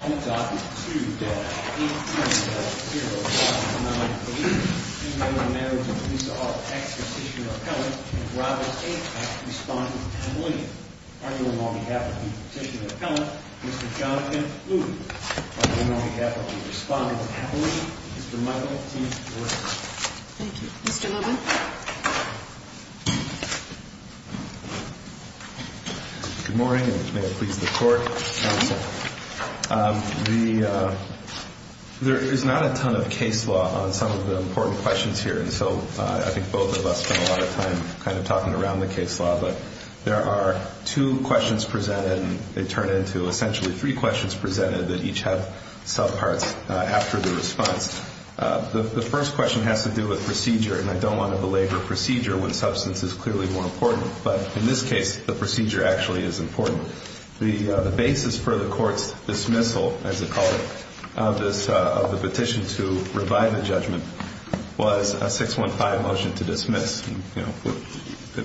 I'm talking to you, Deb. 830-0598. In the name of the members of the Police Office, Executive Petitioner Appellant, and Robert A. Peck, Respondent Appellant, arguing on behalf of the Executive Petitioner Appellant, Mr. Jonathan Luton. Arguing on behalf of the Respondent Appellant, Mr. Michael T. Lewis. Thank you. Mr. Luton. Good morning, and may it please the Court, Counsel. There is not a ton of case law on some of the important questions here, and so I think both of us spent a lot of time kind of talking around the case law, but there are two questions presented, and they turn into essentially three questions presented that each have subparts after the response. The first question has to do with procedure, and I don't want to belabor procedure when substance is clearly more important, but in this case, the procedure actually is important. The basis for the Court's dismissal, as they call it, of the petition to revive the judgment was a 615 motion to dismiss.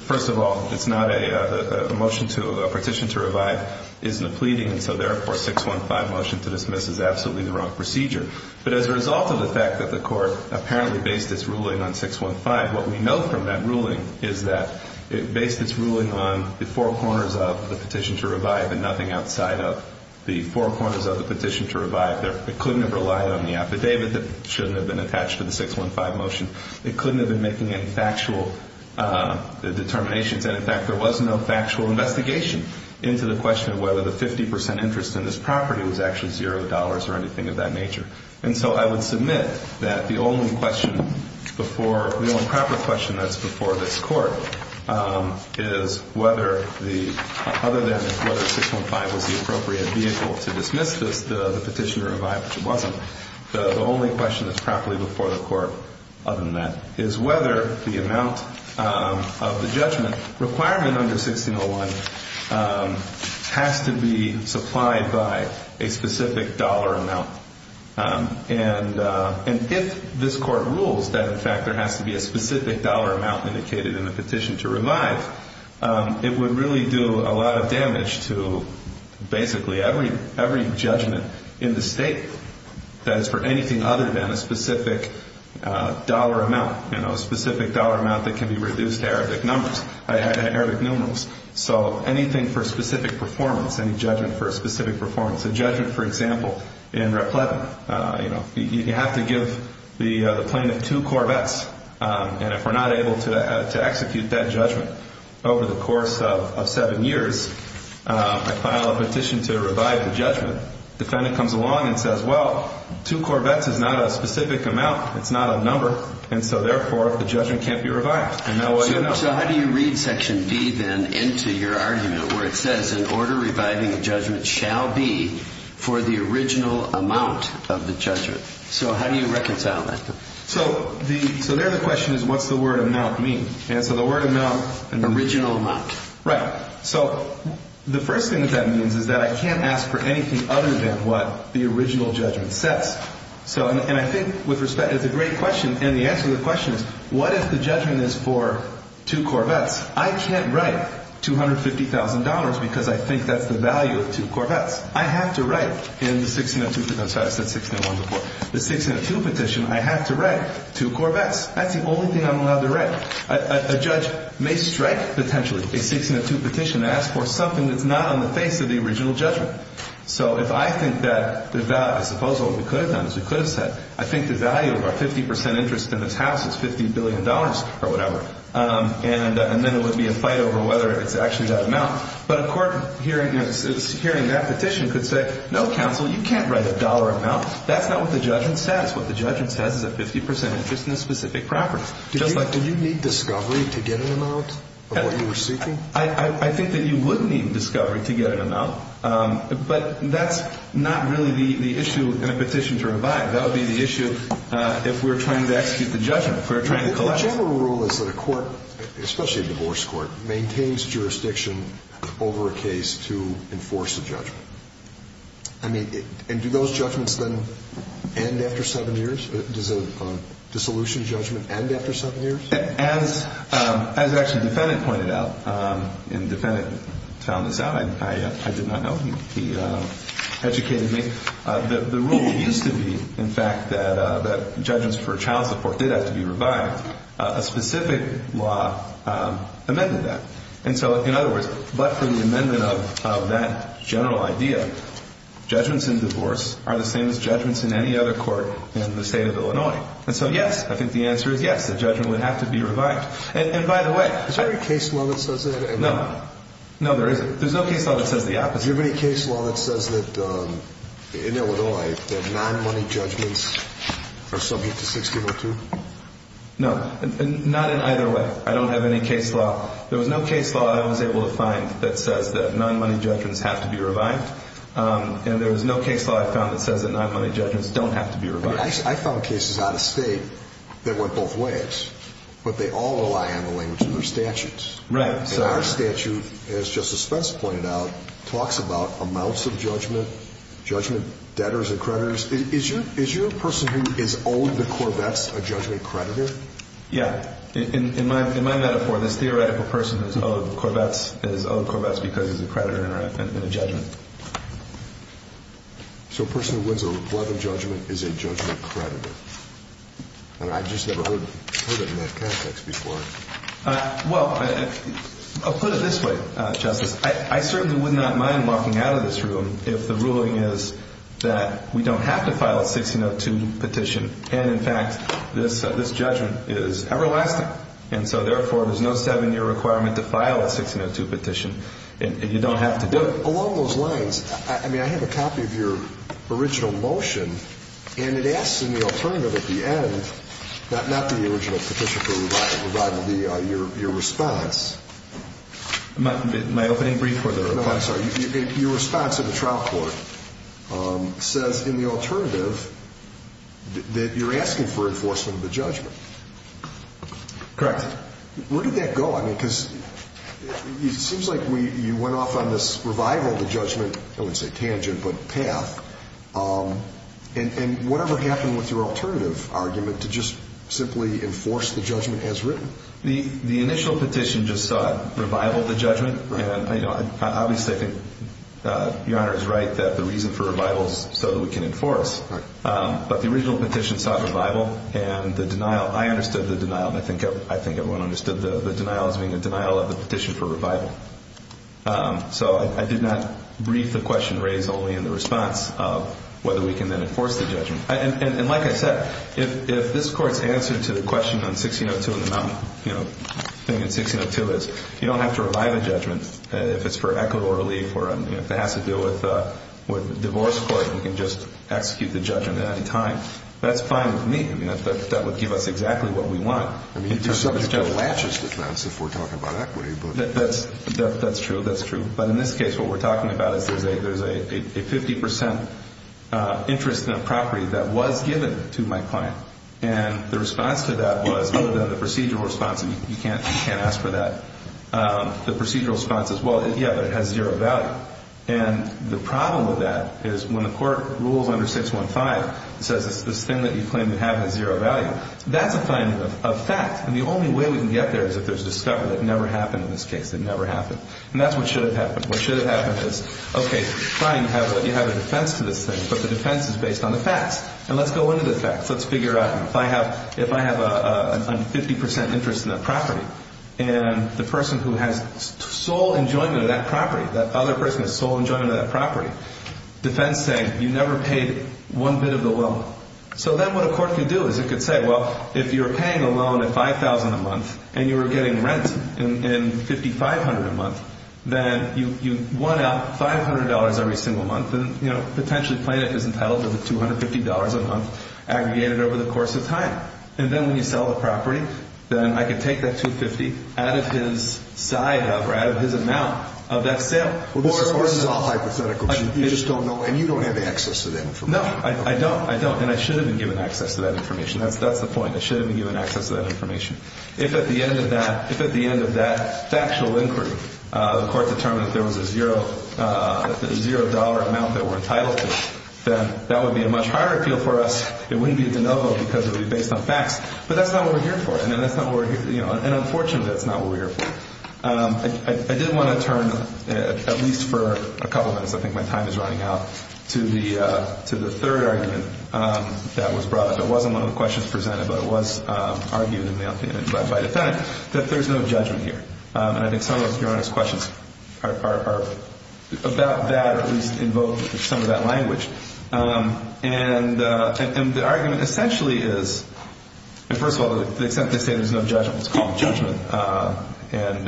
First of all, it's not a motion to a petition to revive. It isn't a pleading, and so therefore, a 615 motion to dismiss is absolutely the wrong procedure. But as a result of the fact that the Court apparently based its ruling on 615, what we know from that ruling is that it based its ruling on the four corners of the petition to revive and nothing outside of the four corners of the petition to revive. It couldn't have relied on the affidavit that shouldn't have been attached to the 615 motion. It couldn't have been making any factual determinations, and in fact, there was no factual investigation into the question of whether the 50% interest in this property was actually $0 or anything of that nature. And so I would submit that the only question before, the only proper question that's before this Court, is whether the, other than whether 615 was the appropriate vehicle to dismiss this, the petition to revive, which it wasn't, the only question that's properly before the Court other than that is whether the amount of the judgment requirement under 1601 has to be supplied by a specific dollar amount. And if this Court rules that, in fact, there has to be a specific dollar amount indicated in the petition to revive, it would really do a lot of damage to basically every judgment in the state that is for anything other than a specific dollar amount, a specific dollar amount that can be reduced to Arabic numbers, Arabic numerals. So anything for a specific performance, any judgment for a specific performance. A judgment, for example, in Raplettan, you have to give the plaintiff two Corvettes, and if we're not able to execute that judgment over the course of seven years, I file a petition to revive the judgment. Defendant comes along and says, well, two Corvettes is not a specific amount, it's not a number, and so therefore the judgment can't be revived. And now what do you know? So how do you read Section D then into your argument where it says, in order reviving a judgment shall be for the original amount of the judgment? So how do you reconcile that? So there the question is, what's the word amount mean? And so the word amount... Original amount. Right. So the first thing that that means is that I can't ask for anything other than what the original judgment says. And I think with respect, it's a great question, and the answer to the question is, what if the judgment is for two Corvettes? I can't write $250,000 because I think that's the value of two Corvettes. I have to write in the 1602 petition... Sorry, I said 1601 before. The 1602 petition, I have to write two Corvettes. That's the only thing I'm allowed to write. A judge may strike, potentially, a 1602 petition and ask for something that's not on the face of the original judgment. So if I think that the value... I suppose what we could have done is we could have said, I think the value of our 50% interest in this house is $50 billion or whatever, and then it would be a fight over whether it's actually that amount. But a court hearing that petition could say, no, counsel, you can't write a dollar amount. That's not what the judgment says. What the judgment says is a 50% interest in a specific property. Just like... Do you need discovery to get an amount of what you were seeking? I think that you would need discovery to get an amount, but that's not really the issue in a petition to revive. That would be the issue if we were trying to execute the judgment, if we were trying to collect... The general rule is that a court, especially a divorce court, maintains jurisdiction over a case to enforce a judgment. I mean, and do those judgments then end after seven years? Does a dissolution judgment end after seven years? As actually the defendant pointed out, and the defendant found this out, I did not know. He educated me. The rule used to be, in fact, that judgments for child support did have to be revived. A specific law amended that. And so, in other words, but for the amendment of that general idea, judgments in divorce are the same as judgments in any other court in the state of Illinois. And so, yes, I think the answer is yes. The judgment would have to be revived. And by the way... Is there a case law that says that? No. No, there isn't. There's no case law that says the opposite. Do you have any case law that says that in Illinois, that non-money judgments are subject to 60-02? No. Not in either way. I don't have any case law. There was no case law I was able to find that says that non-money judgments have to be revived. And there was no case law I found that says that non-money judgments don't have to be revived. I found cases out of state that went both ways. But they all rely on the language in their statutes. Right. And our statute, as Justice Spence pointed out, talks about amounts of judgment, judgment debtors and creditors. Is your person who is owed the Corvettes a judgment creditor? In my metaphor, this theoretical person who is owed Corvettes is owed Corvettes because he's a creditor in a judgment. So a person who wins a Corvette judgment is a judgment creditor. And I've just never heard it in that context before. Well, I'll put it this way, Justice. I certainly would not mind walking out of this room if the ruling is that we don't have to file a 60-02 petition. And, in fact, this judgment is everlasting. And so, therefore, there's no seven-year requirement to file a 60-02 petition. And you don't have to do it. Along those lines, I mean, I have a copy of your original motion. And it asks in the alternative at the end, not the original petition, but your response. My opening brief or the response? No, I'm sorry. Your response in the trial court says in the alternative that you're asking for enforcement of the judgment. Correct. Where did that go? I mean, because it seems like you went off on this revival of the judgment. I wouldn't say tangent, but path. And whatever happened with your alternative argument to just simply enforce the judgment as written? The initial petition just saw revival of the judgment. Obviously, I think Your Honor is right that the reason for revival is so that we can enforce. But the original petition saw revival. And the denial, I understood the denial. I think everyone understood the denial as being a denial of the petition for revival. So I did not brief the question raised only in the response of whether we can then enforce the judgment. And like I said, if this Court's answer to the question on 60-02 and the mountain thing in 60-02 is you don't have to revive a judgment if it's for equitable relief or if it has to do with divorce court and we can just execute the judgment at any time, that's fine with me. I mean, that would give us exactly what we want. I mean, it just sort of latches with us if we're talking about equity, but... That's true, that's true. But in this case, what we're talking about is there's a 50% interest in a property that was given to my client. And the response to that was, other than the procedural response, and you can't ask for that, the procedural response is, well, yeah, but it has zero value. And the problem with that is when the Court rules under 615, it says this thing that you claim to have has zero value. That's a finding of fact. And the only way we can get there is if there's discovery. That never happened in this case. It never happened. And that's what should have happened. What should have happened is, okay, fine, you have a defense to this thing, but the defense is based on the facts. And let's go into the facts. Let's figure out, if I have a 50% interest in that property, and the person who has sole enjoyment of that property, that other person has sole enjoyment of that property, defense saying, you never paid one bit of interest or one bit of the loan. So then what a court can do is it can say, well, if you're paying a loan at $5,000 a month and you were getting rent in $5,500 a month, then you won out $500 every single month, and potentially plaintiff is entitled to the $250 a month aggregated over the course of time. And then when you sell the property, then I can take that $250 out of his side of, or out of his amount of that sale. Well, this is all hypothetical. You just don't know, and you don't have access to the information. No, I don't. I don't. And I should have been given access to that information. That's the point. I should have been given access to that information. If at the end of that factual inquiry, the court determined that there was a $0 amount that we're entitled to, then that would be a much higher appeal for us. It wouldn't be a de novo because it would be based on facts. But that's not what we're here for. And unfortunately, that's not what we're here for. I did want to turn, at least for a couple of minutes, because I think my time is running out, to the third argument that was brought up. It wasn't one of the questions presented, but it was argued in the opinion by the defendant, that there's no judgment here. And I think some of your Honor's questions are about that, or at least invoke some of that language. And the argument essentially is, first of all, to the extent they say there's no judgment, it's called judgment. And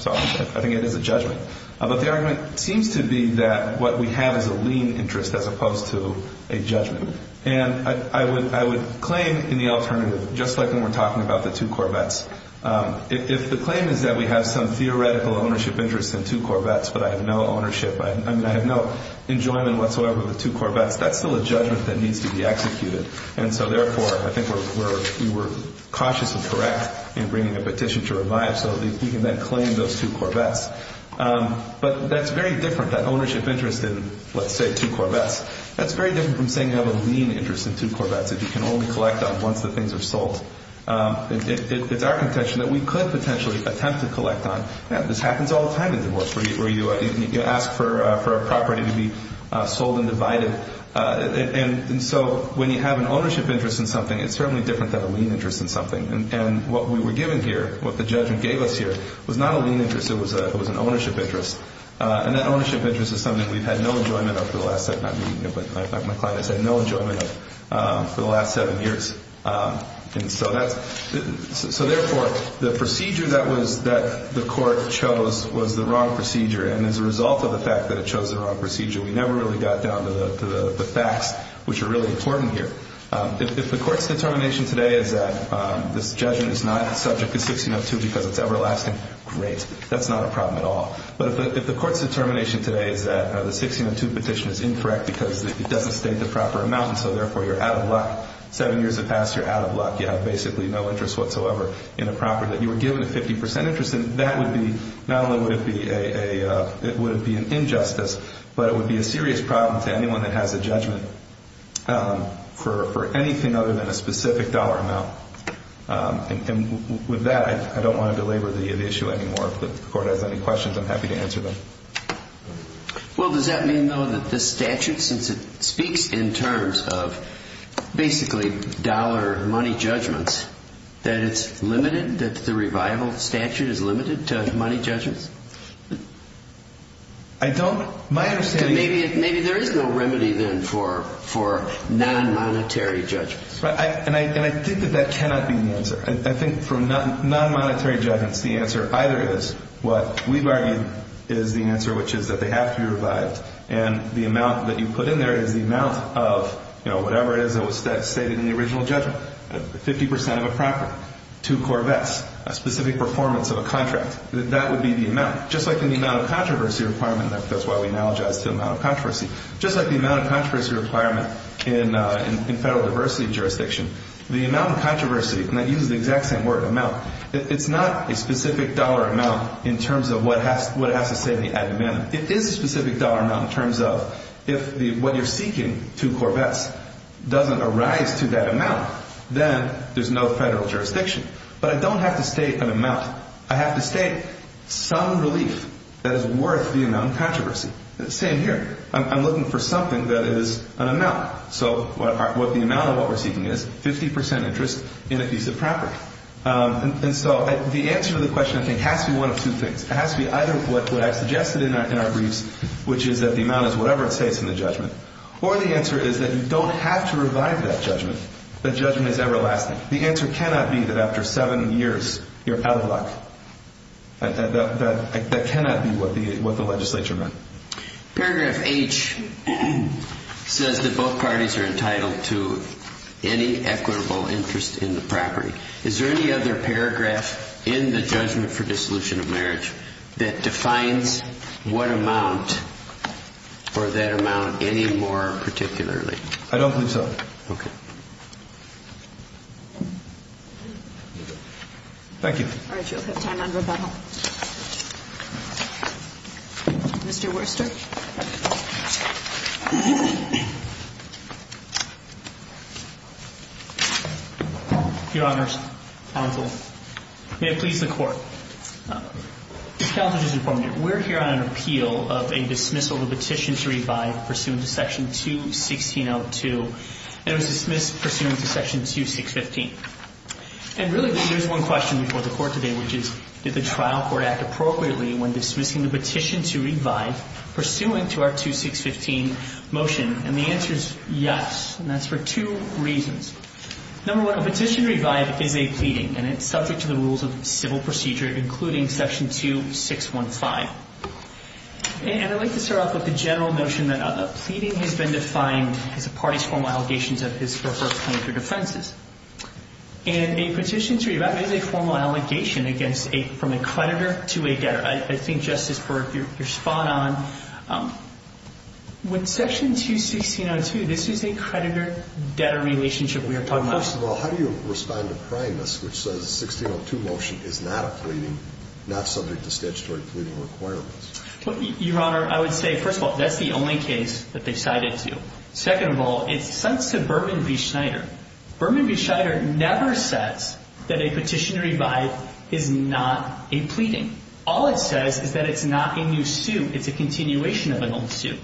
so I think it is a judgment. But the argument seems to be that what we have is a lien interest as opposed to a judgment. And I would claim in the alternative, just like when we're talking about the two Corvettes, if the claim is that we have some theoretical ownership interest in two Corvettes, but I have no ownership, I mean I have no enjoyment whatsoever of the two Corvettes, that's still a judgment that needs to be executed. And so therefore, I think we're cautious and correct in bringing a petition to revive, so that we can then claim those two Corvettes. But that's very different, that ownership interest in, let's say, two Corvettes. That's very different from saying you have a lien interest in two Corvettes, that you can only collect on once the things are sold. It's our contention that we could potentially attempt to collect on. This happens all the time in divorce, where you ask for a property to be sold and divided. And so when you have an ownership interest in something, it's certainly different than a lien interest in something. And what we were given here, what the judgment gave us here, was not a lien interest, it was an ownership interest. And that ownership interest is something we've had no enjoyment of for the last, not me, but my client has had no enjoyment of for the last seven years. And so therefore, the procedure that the court chose was the wrong procedure. And as a result of the fact that it chose the wrong procedure, we never really got down to the facts, which are really important here. If the court's determination today is that this judgment is not subject to 1602 because it's everlasting, great. That's not a problem at all. But if the court's determination today is that the 1602 petition is incorrect because it doesn't state the proper amount, and so therefore you're out of luck, seven years have passed, you're out of luck, you have basically no interest whatsoever in a property that you were given a 50% interest in, that would be not only would it be an injustice, but it would be a serious problem to anyone that has a judgment for anything other than a specific dollar amount. And with that, I don't want to belabor the issue anymore. If the court has any questions, I'm happy to answer them. Well, does that mean, though, that this statute, since it speaks in terms of basically dollar money judgments, that it's limited, that the revival statute is limited to money judgments? I don't. My understanding is... Maybe there is no remedy then for non-monetary judgments. And I think that that cannot be the answer. I think for non-monetary judgments, the answer either is what we've argued is the answer, which is that they have to be revived, and the amount that you put in there is the amount of, you know, whatever it is that was stated in the original judgment. 50% of a property, two Corvettes, a specific performance of a contract, that would be the amount. Just like the amount of controversy requirement, that's why we analogize to the amount of controversy. Just like the amount of controversy requirement in federal diversity jurisdiction, the amount of controversy, and I use the exact same word, amount, it's not a specific dollar amount in terms of what it has to say in the ad hominem. It is a specific dollar amount in terms of, if what you're seeking, two Corvettes, doesn't arise to that amount, then there's no federal jurisdiction. But I don't have to state an amount. I have to state some relief that is worth the amount of controversy. It's the same here. I'm looking for something that is an amount. So the amount of what we're seeking is 50% interest in a piece of property. And so the answer to the question, I think, has to be one of two things. It has to be either what I suggested in our briefs, which is that the amount is whatever it states in the judgment, or the answer is that you don't have to revive that judgment, that judgment is everlasting. The answer cannot be that after seven years you're out of luck. That cannot be what the legislature meant. Paragraph H says that both parties are entitled to any equitable interest in the property. Is there any other paragraph in the judgment for dissolution of marriage that defines what amount or that amount any more particularly? I don't believe so. Okay. Thank you. All right. You'll have time on rebuttal. Mr. Worcester. Your Honors, Honorable, may it please the Court. Counsel, just a moment. We're here on an appeal of a dismissal of a petition to revive pursuant to Section 216.02. And it was dismissed pursuant to Section 2615. And really, there's one question before the Court today, which is did the trial court act appropriately when dismissing the petition to revive pursuant to our 2615 motion? And the answer is yes, and that's for two reasons. Number one, a petition to revive is a pleading, and it's subject to the rules of civil procedure, including Section 2615. And I'd like to start off with the general notion that a pleading has been defined as a party's formal allegations of his or her plaintiff's offenses. And a petition to revive is a formal allegation from a creditor to a debtor. I think, Justice Burke, you're spot on. With Section 2602, this is a creditor-debtor relationship we are talking about. Well, first of all, how do you respond to Primus, which says the 1602 motion is not a pleading, not subject to statutory pleading requirements? Your Honor, I would say, first of all, that's the only case that they cited to. Second of all, it cites to Berman v. Schneider. Berman v. Schneider never says that a petition to revive is not a pleading. All it says is that it's not a new suit. It's a continuation of an old suit.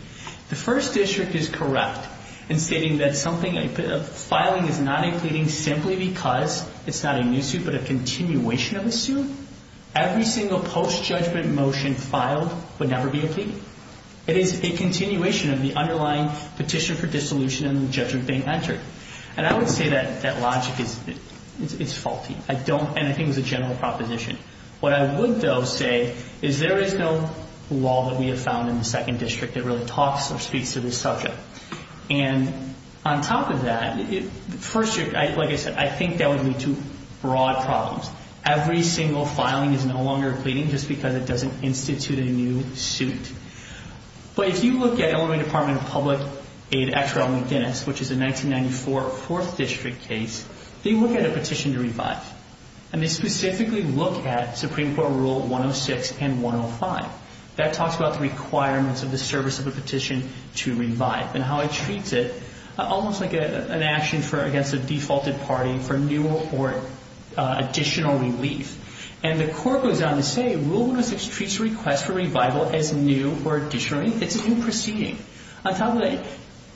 The First District is correct in stating that filing is not a pleading simply because it's not a new suit but a continuation of a suit. It is a continuation of the underlying petition for dissolution and the judgment being entered. And I would say that that logic is faulty. And I think it was a general proposition. What I would, though, say is there is no law that we have found in the Second District that really talks or speaks to this subject. And on top of that, First District, like I said, I think that would lead to broad problems. Every single filing is no longer a pleading just because it doesn't institute a new suit. But if you look at Illinois Department of Public Aid, Exeril McInnes, which is a 1994 Fourth District case, they look at a petition to revive. And they specifically look at Supreme Court Rule 106 and 105. That talks about the requirements of the service of a petition to revive and how it treats it almost like an action against a defaulted party for new or additional relief. And the court goes on to say Rule 106 treats a request for revival as new or additional. It's a new proceeding. On top of that,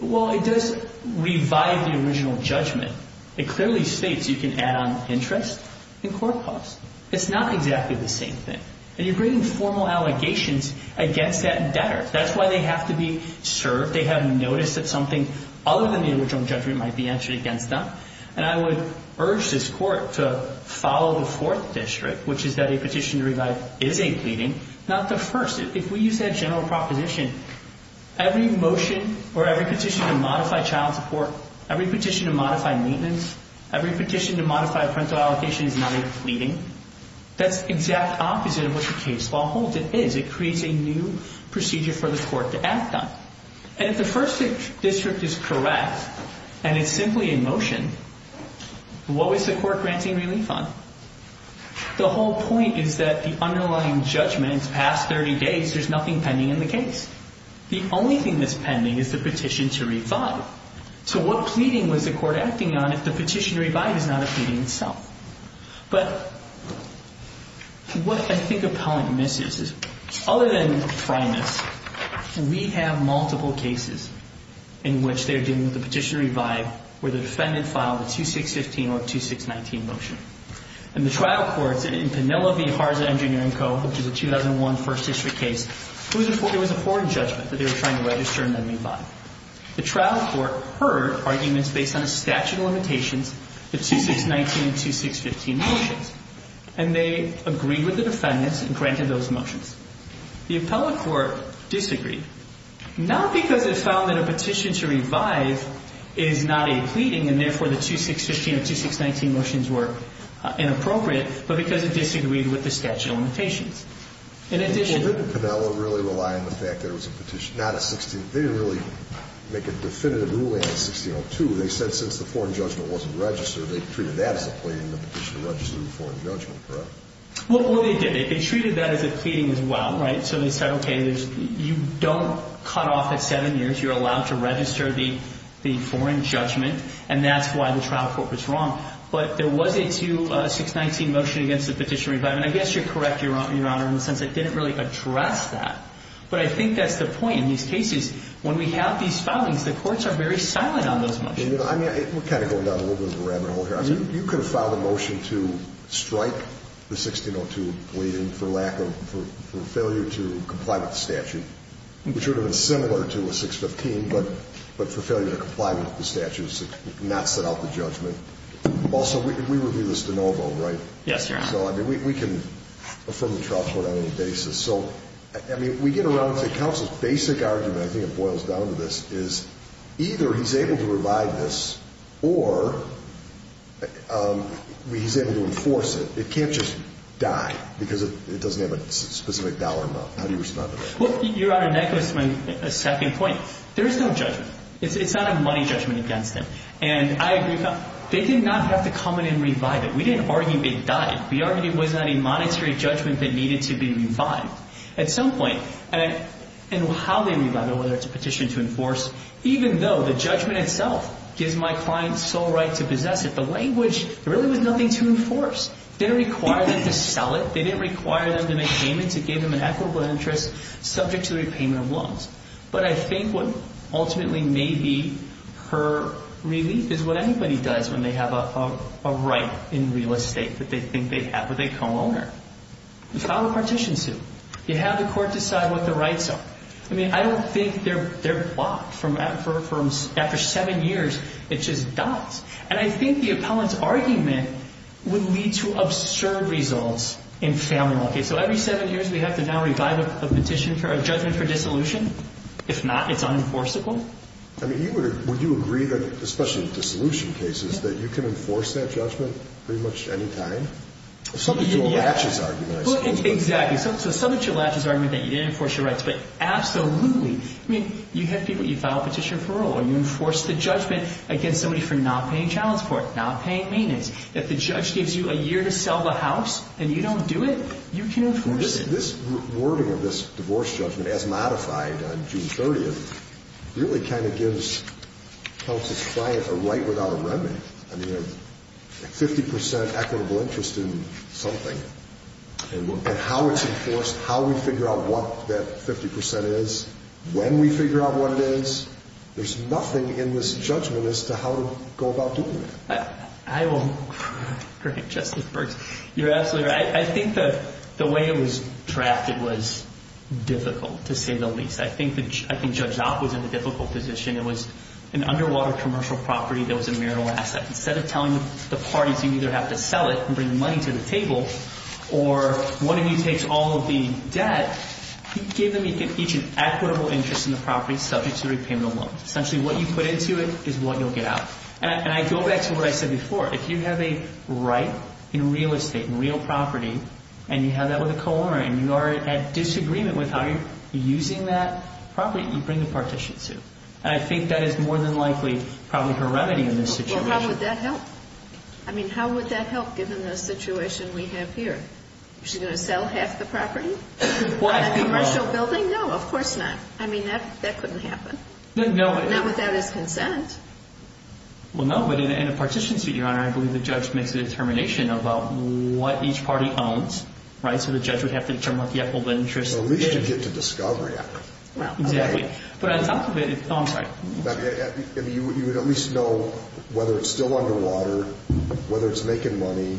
while it does revive the original judgment, it clearly states you can add on interest and court costs. It's not exactly the same thing. And you're bringing formal allegations against that debtor. That's why they have to be served. They have noticed that something other than the original judgment might be answered against them. And I would urge this court to follow the Fourth District, which is that a petition to revive is a pleading, not the first. If we use that general proposition, every motion or every petition to modify child support, every petition to modify maintenance, every petition to modify a parental allocation is not a pleading. That's the exact opposite of what the case law holds it is. It creates a new procedure for the court to act on. And if the First District is correct and it's simply in motion, what was the court granting relief on? The whole point is that the underlying judgment, it's past 30 days, there's nothing pending in the case. The only thing that's pending is the petition to revive. So what pleading was the court acting on if the petition to revive is not a pleading itself? But what I think appellant misses is other than primus, we have multiple cases in which they're dealing with the petition to revive where the defendant filed a 2615 or a 2619 motion. In the trial courts in Penelope and Harza Engineering Co., which is a 2001 First District case, there was a foreign judgment that they were trying to register and then revive. The trial court heard arguments based on the statute of limitations, the 2619 and 2615 motions, and they agreed with the defendants and granted those motions. The appellate court disagreed, not because it found that a petition to revive is not a pleading and therefore the 2615 or 2619 motions were inappropriate, but because it disagreed with the statute of limitations. In addition... Well, didn't Penelope really rely on the fact that it was a petition, not a 16... They didn't really make a definitive ruling on 1602. They said since the foreign judgment wasn't registered, they treated that as a pleading, the petition to register the foreign judgment, correct? Well, they did. They treated that as a pleading as well, right? So they said, okay, you don't cut off at seven years. You're allowed to register the foreign judgment, and that's why the trial court was wrong. But there was a 2619 motion against the petition to revive, and I guess you're correct, Your Honor, in the sense it didn't really address that. But I think that's the point. In these cases, when we have these filings, the courts are very silent on those motions. I mean, we're kind of going down a little bit of a rabbit hole here. Your Honor, you could have filed a motion to strike the 1602 pleading for lack of for failure to comply with the statute, which would have been similar to a 615, but for failure to comply with the statute, not set out the judgment. Also, we review this de novo, right? Yes, Your Honor. So, I mean, we can affirm the trial court on any basis. So, I mean, we get around to counsel's basic argument, I think it boils down to this, is either he's able to revive this or he's able to enforce it. It can't just die because it doesn't have a specific dollar amount. How do you respond to that? Well, Your Honor, that goes to my second point. There is no judgment. It's not a money judgment against them. And I agree with that. They did not have to come in and revive it. We didn't argue they died. We argued it was not a monetary judgment that needed to be revived. At some point, and how they revive it, whether it's a petition to enforce, even though the judgment itself gives my client sole right to possess it, the language really was nothing to enforce. It didn't require them to sell it. It didn't require them to make payments. It gave them an equitable interest subject to the repayment of loans. But I think what ultimately may be her relief is what anybody does when they have a right in real estate that they think they have with a co-owner. You file a partition suit. You have the court decide what the rights are. I mean, I don't think they're blocked. After seven years, it just dies. And I think the appellant's argument would lead to absurd results in family law. So every seven years, we have to now revive a judgment for dissolution? If not, it's unenforceable? I mean, would you agree that, especially in dissolution cases, that you can enforce that judgment pretty much any time? Well, subject to a latches argument, I suppose. Exactly. So subject to a latches argument that you didn't enforce your rights, but absolutely. I mean, you file a petition for parole, and you enforce the judgment against somebody for not paying child support, not paying maintenance. If the judge gives you a year to sell the house and you don't do it, you can enforce it. This wording of this divorce judgment, as modified on June 30th, really kind of gives counsel's client a right without a remnant. I mean, a 50% equitable interest in something, and how it's enforced, how we figure out what that 50% is, when we figure out what it is, there's nothing in this judgment as to how to go about doing it. I will correct Justice Burks. You're absolutely right. I think the way it was trapped, it was difficult, to say the least. I think Judge Zopp was in a difficult position. It was an underwater commercial property that was a marital asset. Instead of telling the parties you either have to sell it and bring money to the table, or one of you takes all of the debt, give them each an equitable interest in the property subject to repayment of loans. Essentially, what you put into it is what you'll get out. And I go back to what I said before. If you have a right in real estate, in real property, and you have that with a co-owner, and you are at disagreement with how you're using that property, you bring the partition suit. And I think that is more than likely probably her remedy in this situation. Well, how would that help? I mean, how would that help, given the situation we have here? Is she going to sell half the property? Why? On a commercial building? No, of course not. I mean, that couldn't happen. Not without his consent. Well, no, but in a partition suit, Your Honor, I believe the judge makes a determination about what each party owns, right? So the judge would have to determine what the equitable interest is. At least you get to discovery after. Exactly. But on top of it, oh, I'm sorry. You would at least know whether it's still underwater, whether it's making money,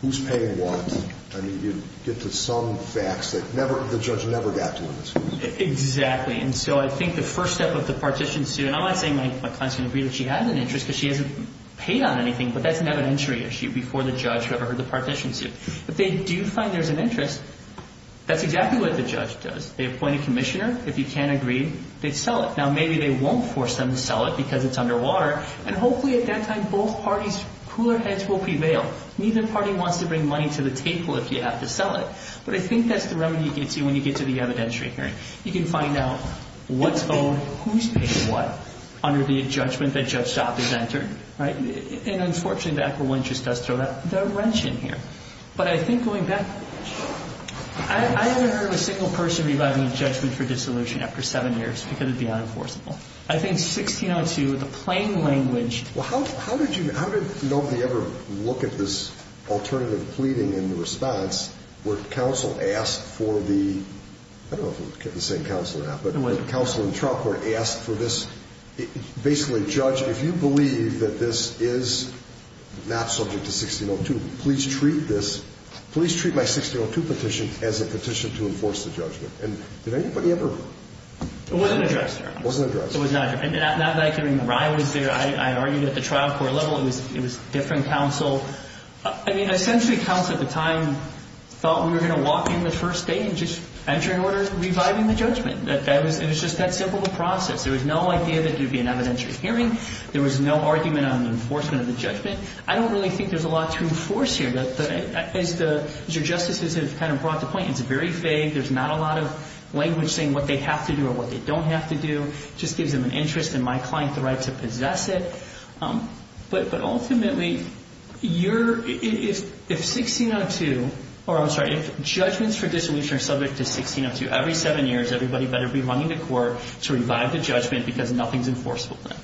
who's paying what. I mean, you'd get to some facts that the judge never got to in this case. Exactly. And so I think the first step of the partition suit, and I'm not saying my client's going to agree that she has an interest because she hasn't paid on anything, but that's an evidentiary issue before the judge who ever heard the partition suit. If they do find there's an interest, that's exactly what the judge does. They appoint a commissioner. If you can't agree, they sell it. Now, maybe they won't force them to sell it because it's underwater, and hopefully at that time both parties' cooler heads will prevail. Neither party wants to bring money to the table if you have to sell it. But I think that's the remedy you can see when you get to the evidentiary hearing. You can find out what's owned, who's paying what, under the judgment that Judge Dopp has entered, right? And unfortunately, the equitable interest does throw the wrench in here. But I think going back, I haven't heard of a single person revising a judgment for dissolution after seven years because it would be unenforceable. I think 1602, the plain language. Well, how did nobody ever look at this alternative pleading in the response where counsel asked for the – I don't know if it was the same counsel or not, but counsel in trial court asked for this. Basically, judge, if you believe that this is not subject to 1602, please treat this – please treat my 1602 petition as a petition to enforce the judgment. And did anybody ever – It wasn't addressed. It wasn't addressed. It was not addressed. Not that I can remember. I was there. I argued at the trial court level. It was different counsel. I mean, essentially, counsel at the time thought we were going to walk in the first day and just enter an order reviving the judgment. It was just that simple of a process. There was no idea that there would be an evidentiary hearing. There was no argument on the enforcement of the judgment. I don't really think there's a lot to enforce here. As your Justices have kind of brought to point, it's very vague. There's not a lot of language saying what they have to do or what they don't have to do. It just gives them an interest in my client's right to possess it. But ultimately, you're – if 1602 – or I'm sorry. If judgments for dissolution are subject to 1602 every seven years, everybody better be running to court to revive the judgment because nothing is enforceable then.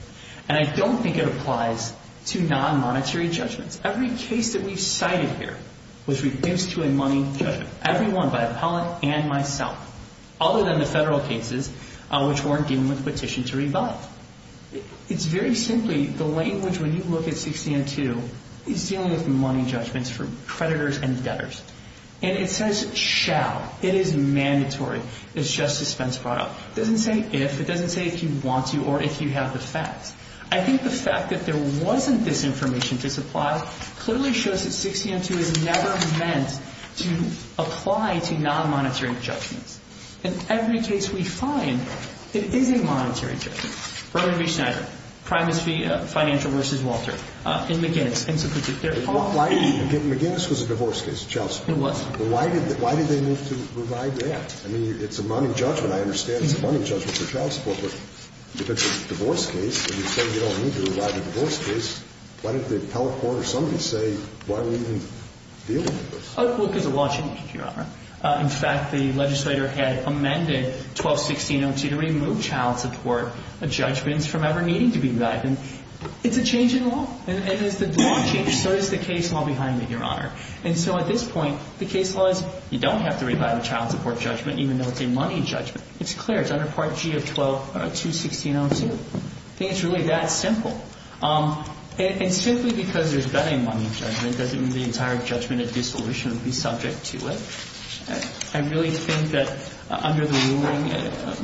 And I don't think it applies to non-monetary judgments. Every case that we've cited here was reduced to a money judgment, every one by appellant and myself, other than the federal cases, which weren't given with petition to revive. It's very simply the language when you look at 1602 is dealing with money judgments for creditors and debtors. And it says shall. It is mandatory, as Justice Spence brought up. It doesn't say if. It doesn't say if you want to or if you have the facts. I think the fact that there wasn't this information to supply clearly shows that 1602 is never meant to apply to non-monetary judgments. In every case we find, it is a monetary judgment. Berman v. Schneider. Primus v. Financial v. Walter. In McGinnis. In some particular cases. McGinnis was a divorce case, Justice. It was. Why did they need to provide that? I mean, it's a money judgment. I understand it's a money judgment for child support. But if it's a divorce case and you say you don't need to provide a divorce case, why didn't the appellate court or somebody say, why are we even dealing with this? Our book is a law change, Your Honor. In fact, the legislator had amended 1216-02 to remove child support judgments from ever needing to be revived. And it's a change in law. And as the law changes, so does the case law behind it, Your Honor. And so at this point, the case law is, you don't have to revive a child support judgment, even though it's a money judgment. It's clear. It's under Part G of 12, 216-02. I think it's really that simple. And simply because there's been a money judgment doesn't mean the entire judgment of dissolution would be subject to it. I really think that under the ruling,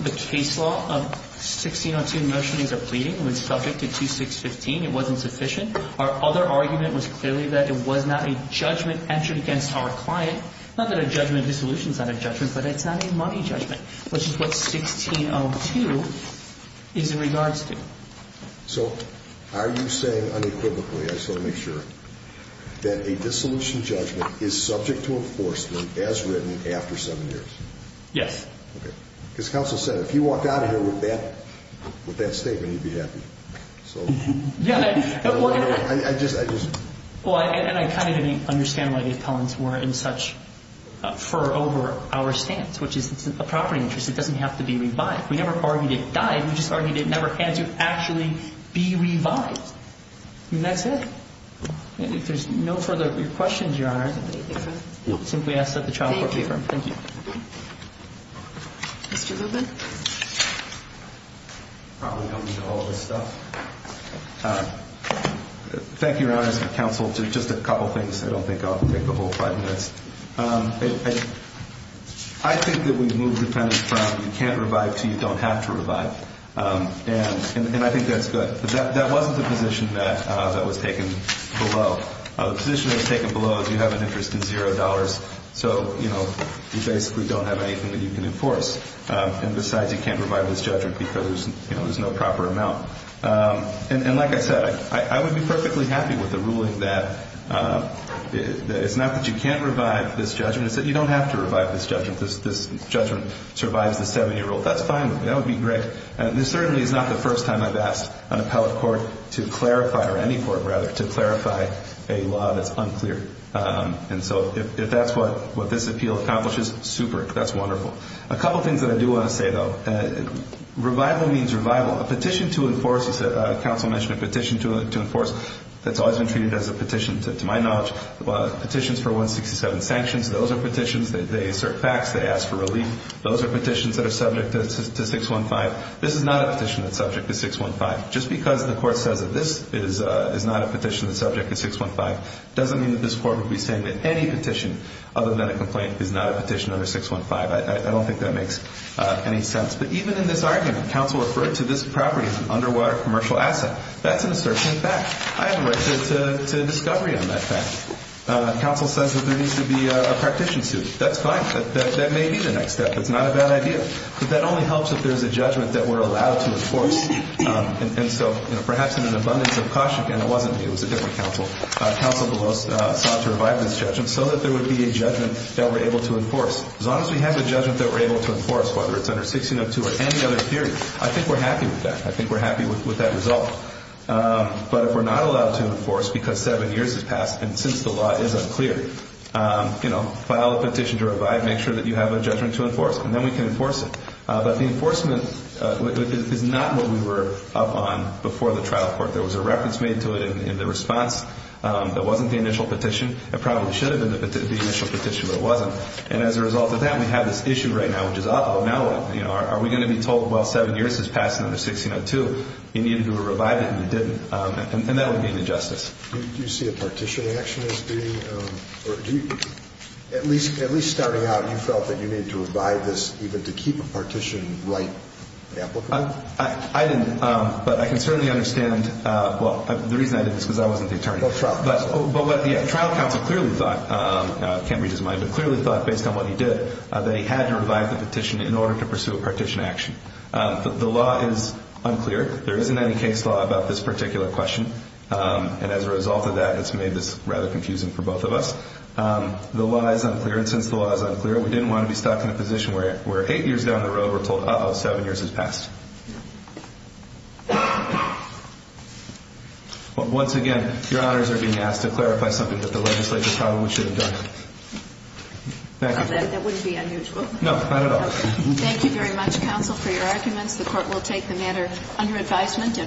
the case law of 16-02, motion is a pleading. It was subject to 2615. It wasn't sufficient. Our other argument was clearly that it was not a judgment entered against our client. Not that a judgment of dissolution is not a judgment, but it's not a money judgment, which is what 16-02 is in regards to. So are you saying unequivocally, I just want to make sure, that a dissolution judgment is subject to enforcement as written after seven years? Yes. Okay. Because counsel said if you walk out of here with that statement, you'd be happy. Yeah. And I kind of didn't understand why the appellants were in such fur over our stance, which is it's a property interest. It doesn't have to be revived. We never argued it died. We just argued it never had to actually be revived. And that's it. If there's no further questions, Your Honor, I'll simply ask that the trial court be adjourned. Thank you. Mr. Lubin? I probably don't need all this stuff. Thank you, Your Honor, and counsel, just a couple things. I don't think I'll take the whole five minutes. I think that when you move the penalty from you can't revive to you don't have to revive, and I think that's good. But that wasn't the position that was taken below. The position that was taken below is you have an interest in $0, so, you know, you basically don't have anything that you can enforce. And besides, you can't revive this judgment because, you know, there's no proper amount. And like I said, I would be perfectly happy with the ruling that it's not that you can't revive this judgment. It's that you don't have to revive this judgment. This judgment survives the 7-year-old. That's fine with me. That would be great. This certainly is not the first time I've asked an appellate court to clarify or any court, rather, to clarify a law that's unclear. And so if that's what this appeal accomplishes, super. That's wonderful. A couple things that I do want to say, though. Revival means revival. A petition to enforce, as the counsel mentioned, a petition to enforce, that's always been treated as a petition, to my knowledge, petitions for 167 sanctions, those are petitions. They assert facts. They ask for relief. Those are petitions that are subject to 615. This is not a petition that's subject to 615. Just because the court says that this is not a petition that's subject to 615 doesn't mean that this court would be saying that any petition, other than a complaint, is not a petition under 615. I don't think that makes any sense. But even in this argument, counsel referred to this property as an underwater commercial asset. That's an asserting fact. I have a right to discovery on that fact. Counsel says that there needs to be a partition suit. That's fine. That may be the next step. That's not a bad idea. But that only helps if there's a judgment that we're allowed to enforce. And so, you know, perhaps in an abundance of caution, and it wasn't me, it was a different counsel, counsel DeVos sought to revive this judgment so that there would be a judgment that we're able to enforce. As long as we have a judgment that we're able to enforce, whether it's under 1602 or any other period, I think we're happy with that. I think we're happy with that result. But if we're not allowed to enforce because seven years has passed and since the law is unclear, you know, file a petition to revive, make sure that you have a judgment to enforce, and then we can enforce it. But the enforcement is not what we were up on before the trial court. There was a reference made to it in the response that wasn't the initial petition. It probably should have been the initial petition, but it wasn't. And as a result of that, we have this issue right now, which is, oh, now what? You know, are we going to be told, well, seven years has passed under 1602. You needed to revive it and you didn't. And that would be an injustice. Do you see a partition action as being, or do you, at least starting out, you felt that you needed to revive this even to keep a partition right applicable? I didn't, but I can certainly understand, well, the reason I did this is because I wasn't the attorney. But the trial counsel clearly thought, I can't read his mind, but clearly thought based on what he did that he had to revive the petition in order to pursue a partition action. The law is unclear. There isn't any case law about this particular question. And as a result of that, it's made this rather confusing for both of us. The law is unclear, and since the law is unclear, we didn't want to be stuck in a position where eight years down the road we're told, uh-oh, seven years has passed. Once again, your honors are being asked to clarify something that the legislature probably should have done. Thank you. That wouldn't be unusual. No, not at all. Thank you very much, counsel, for your arguments. The court will take the matter under advisement.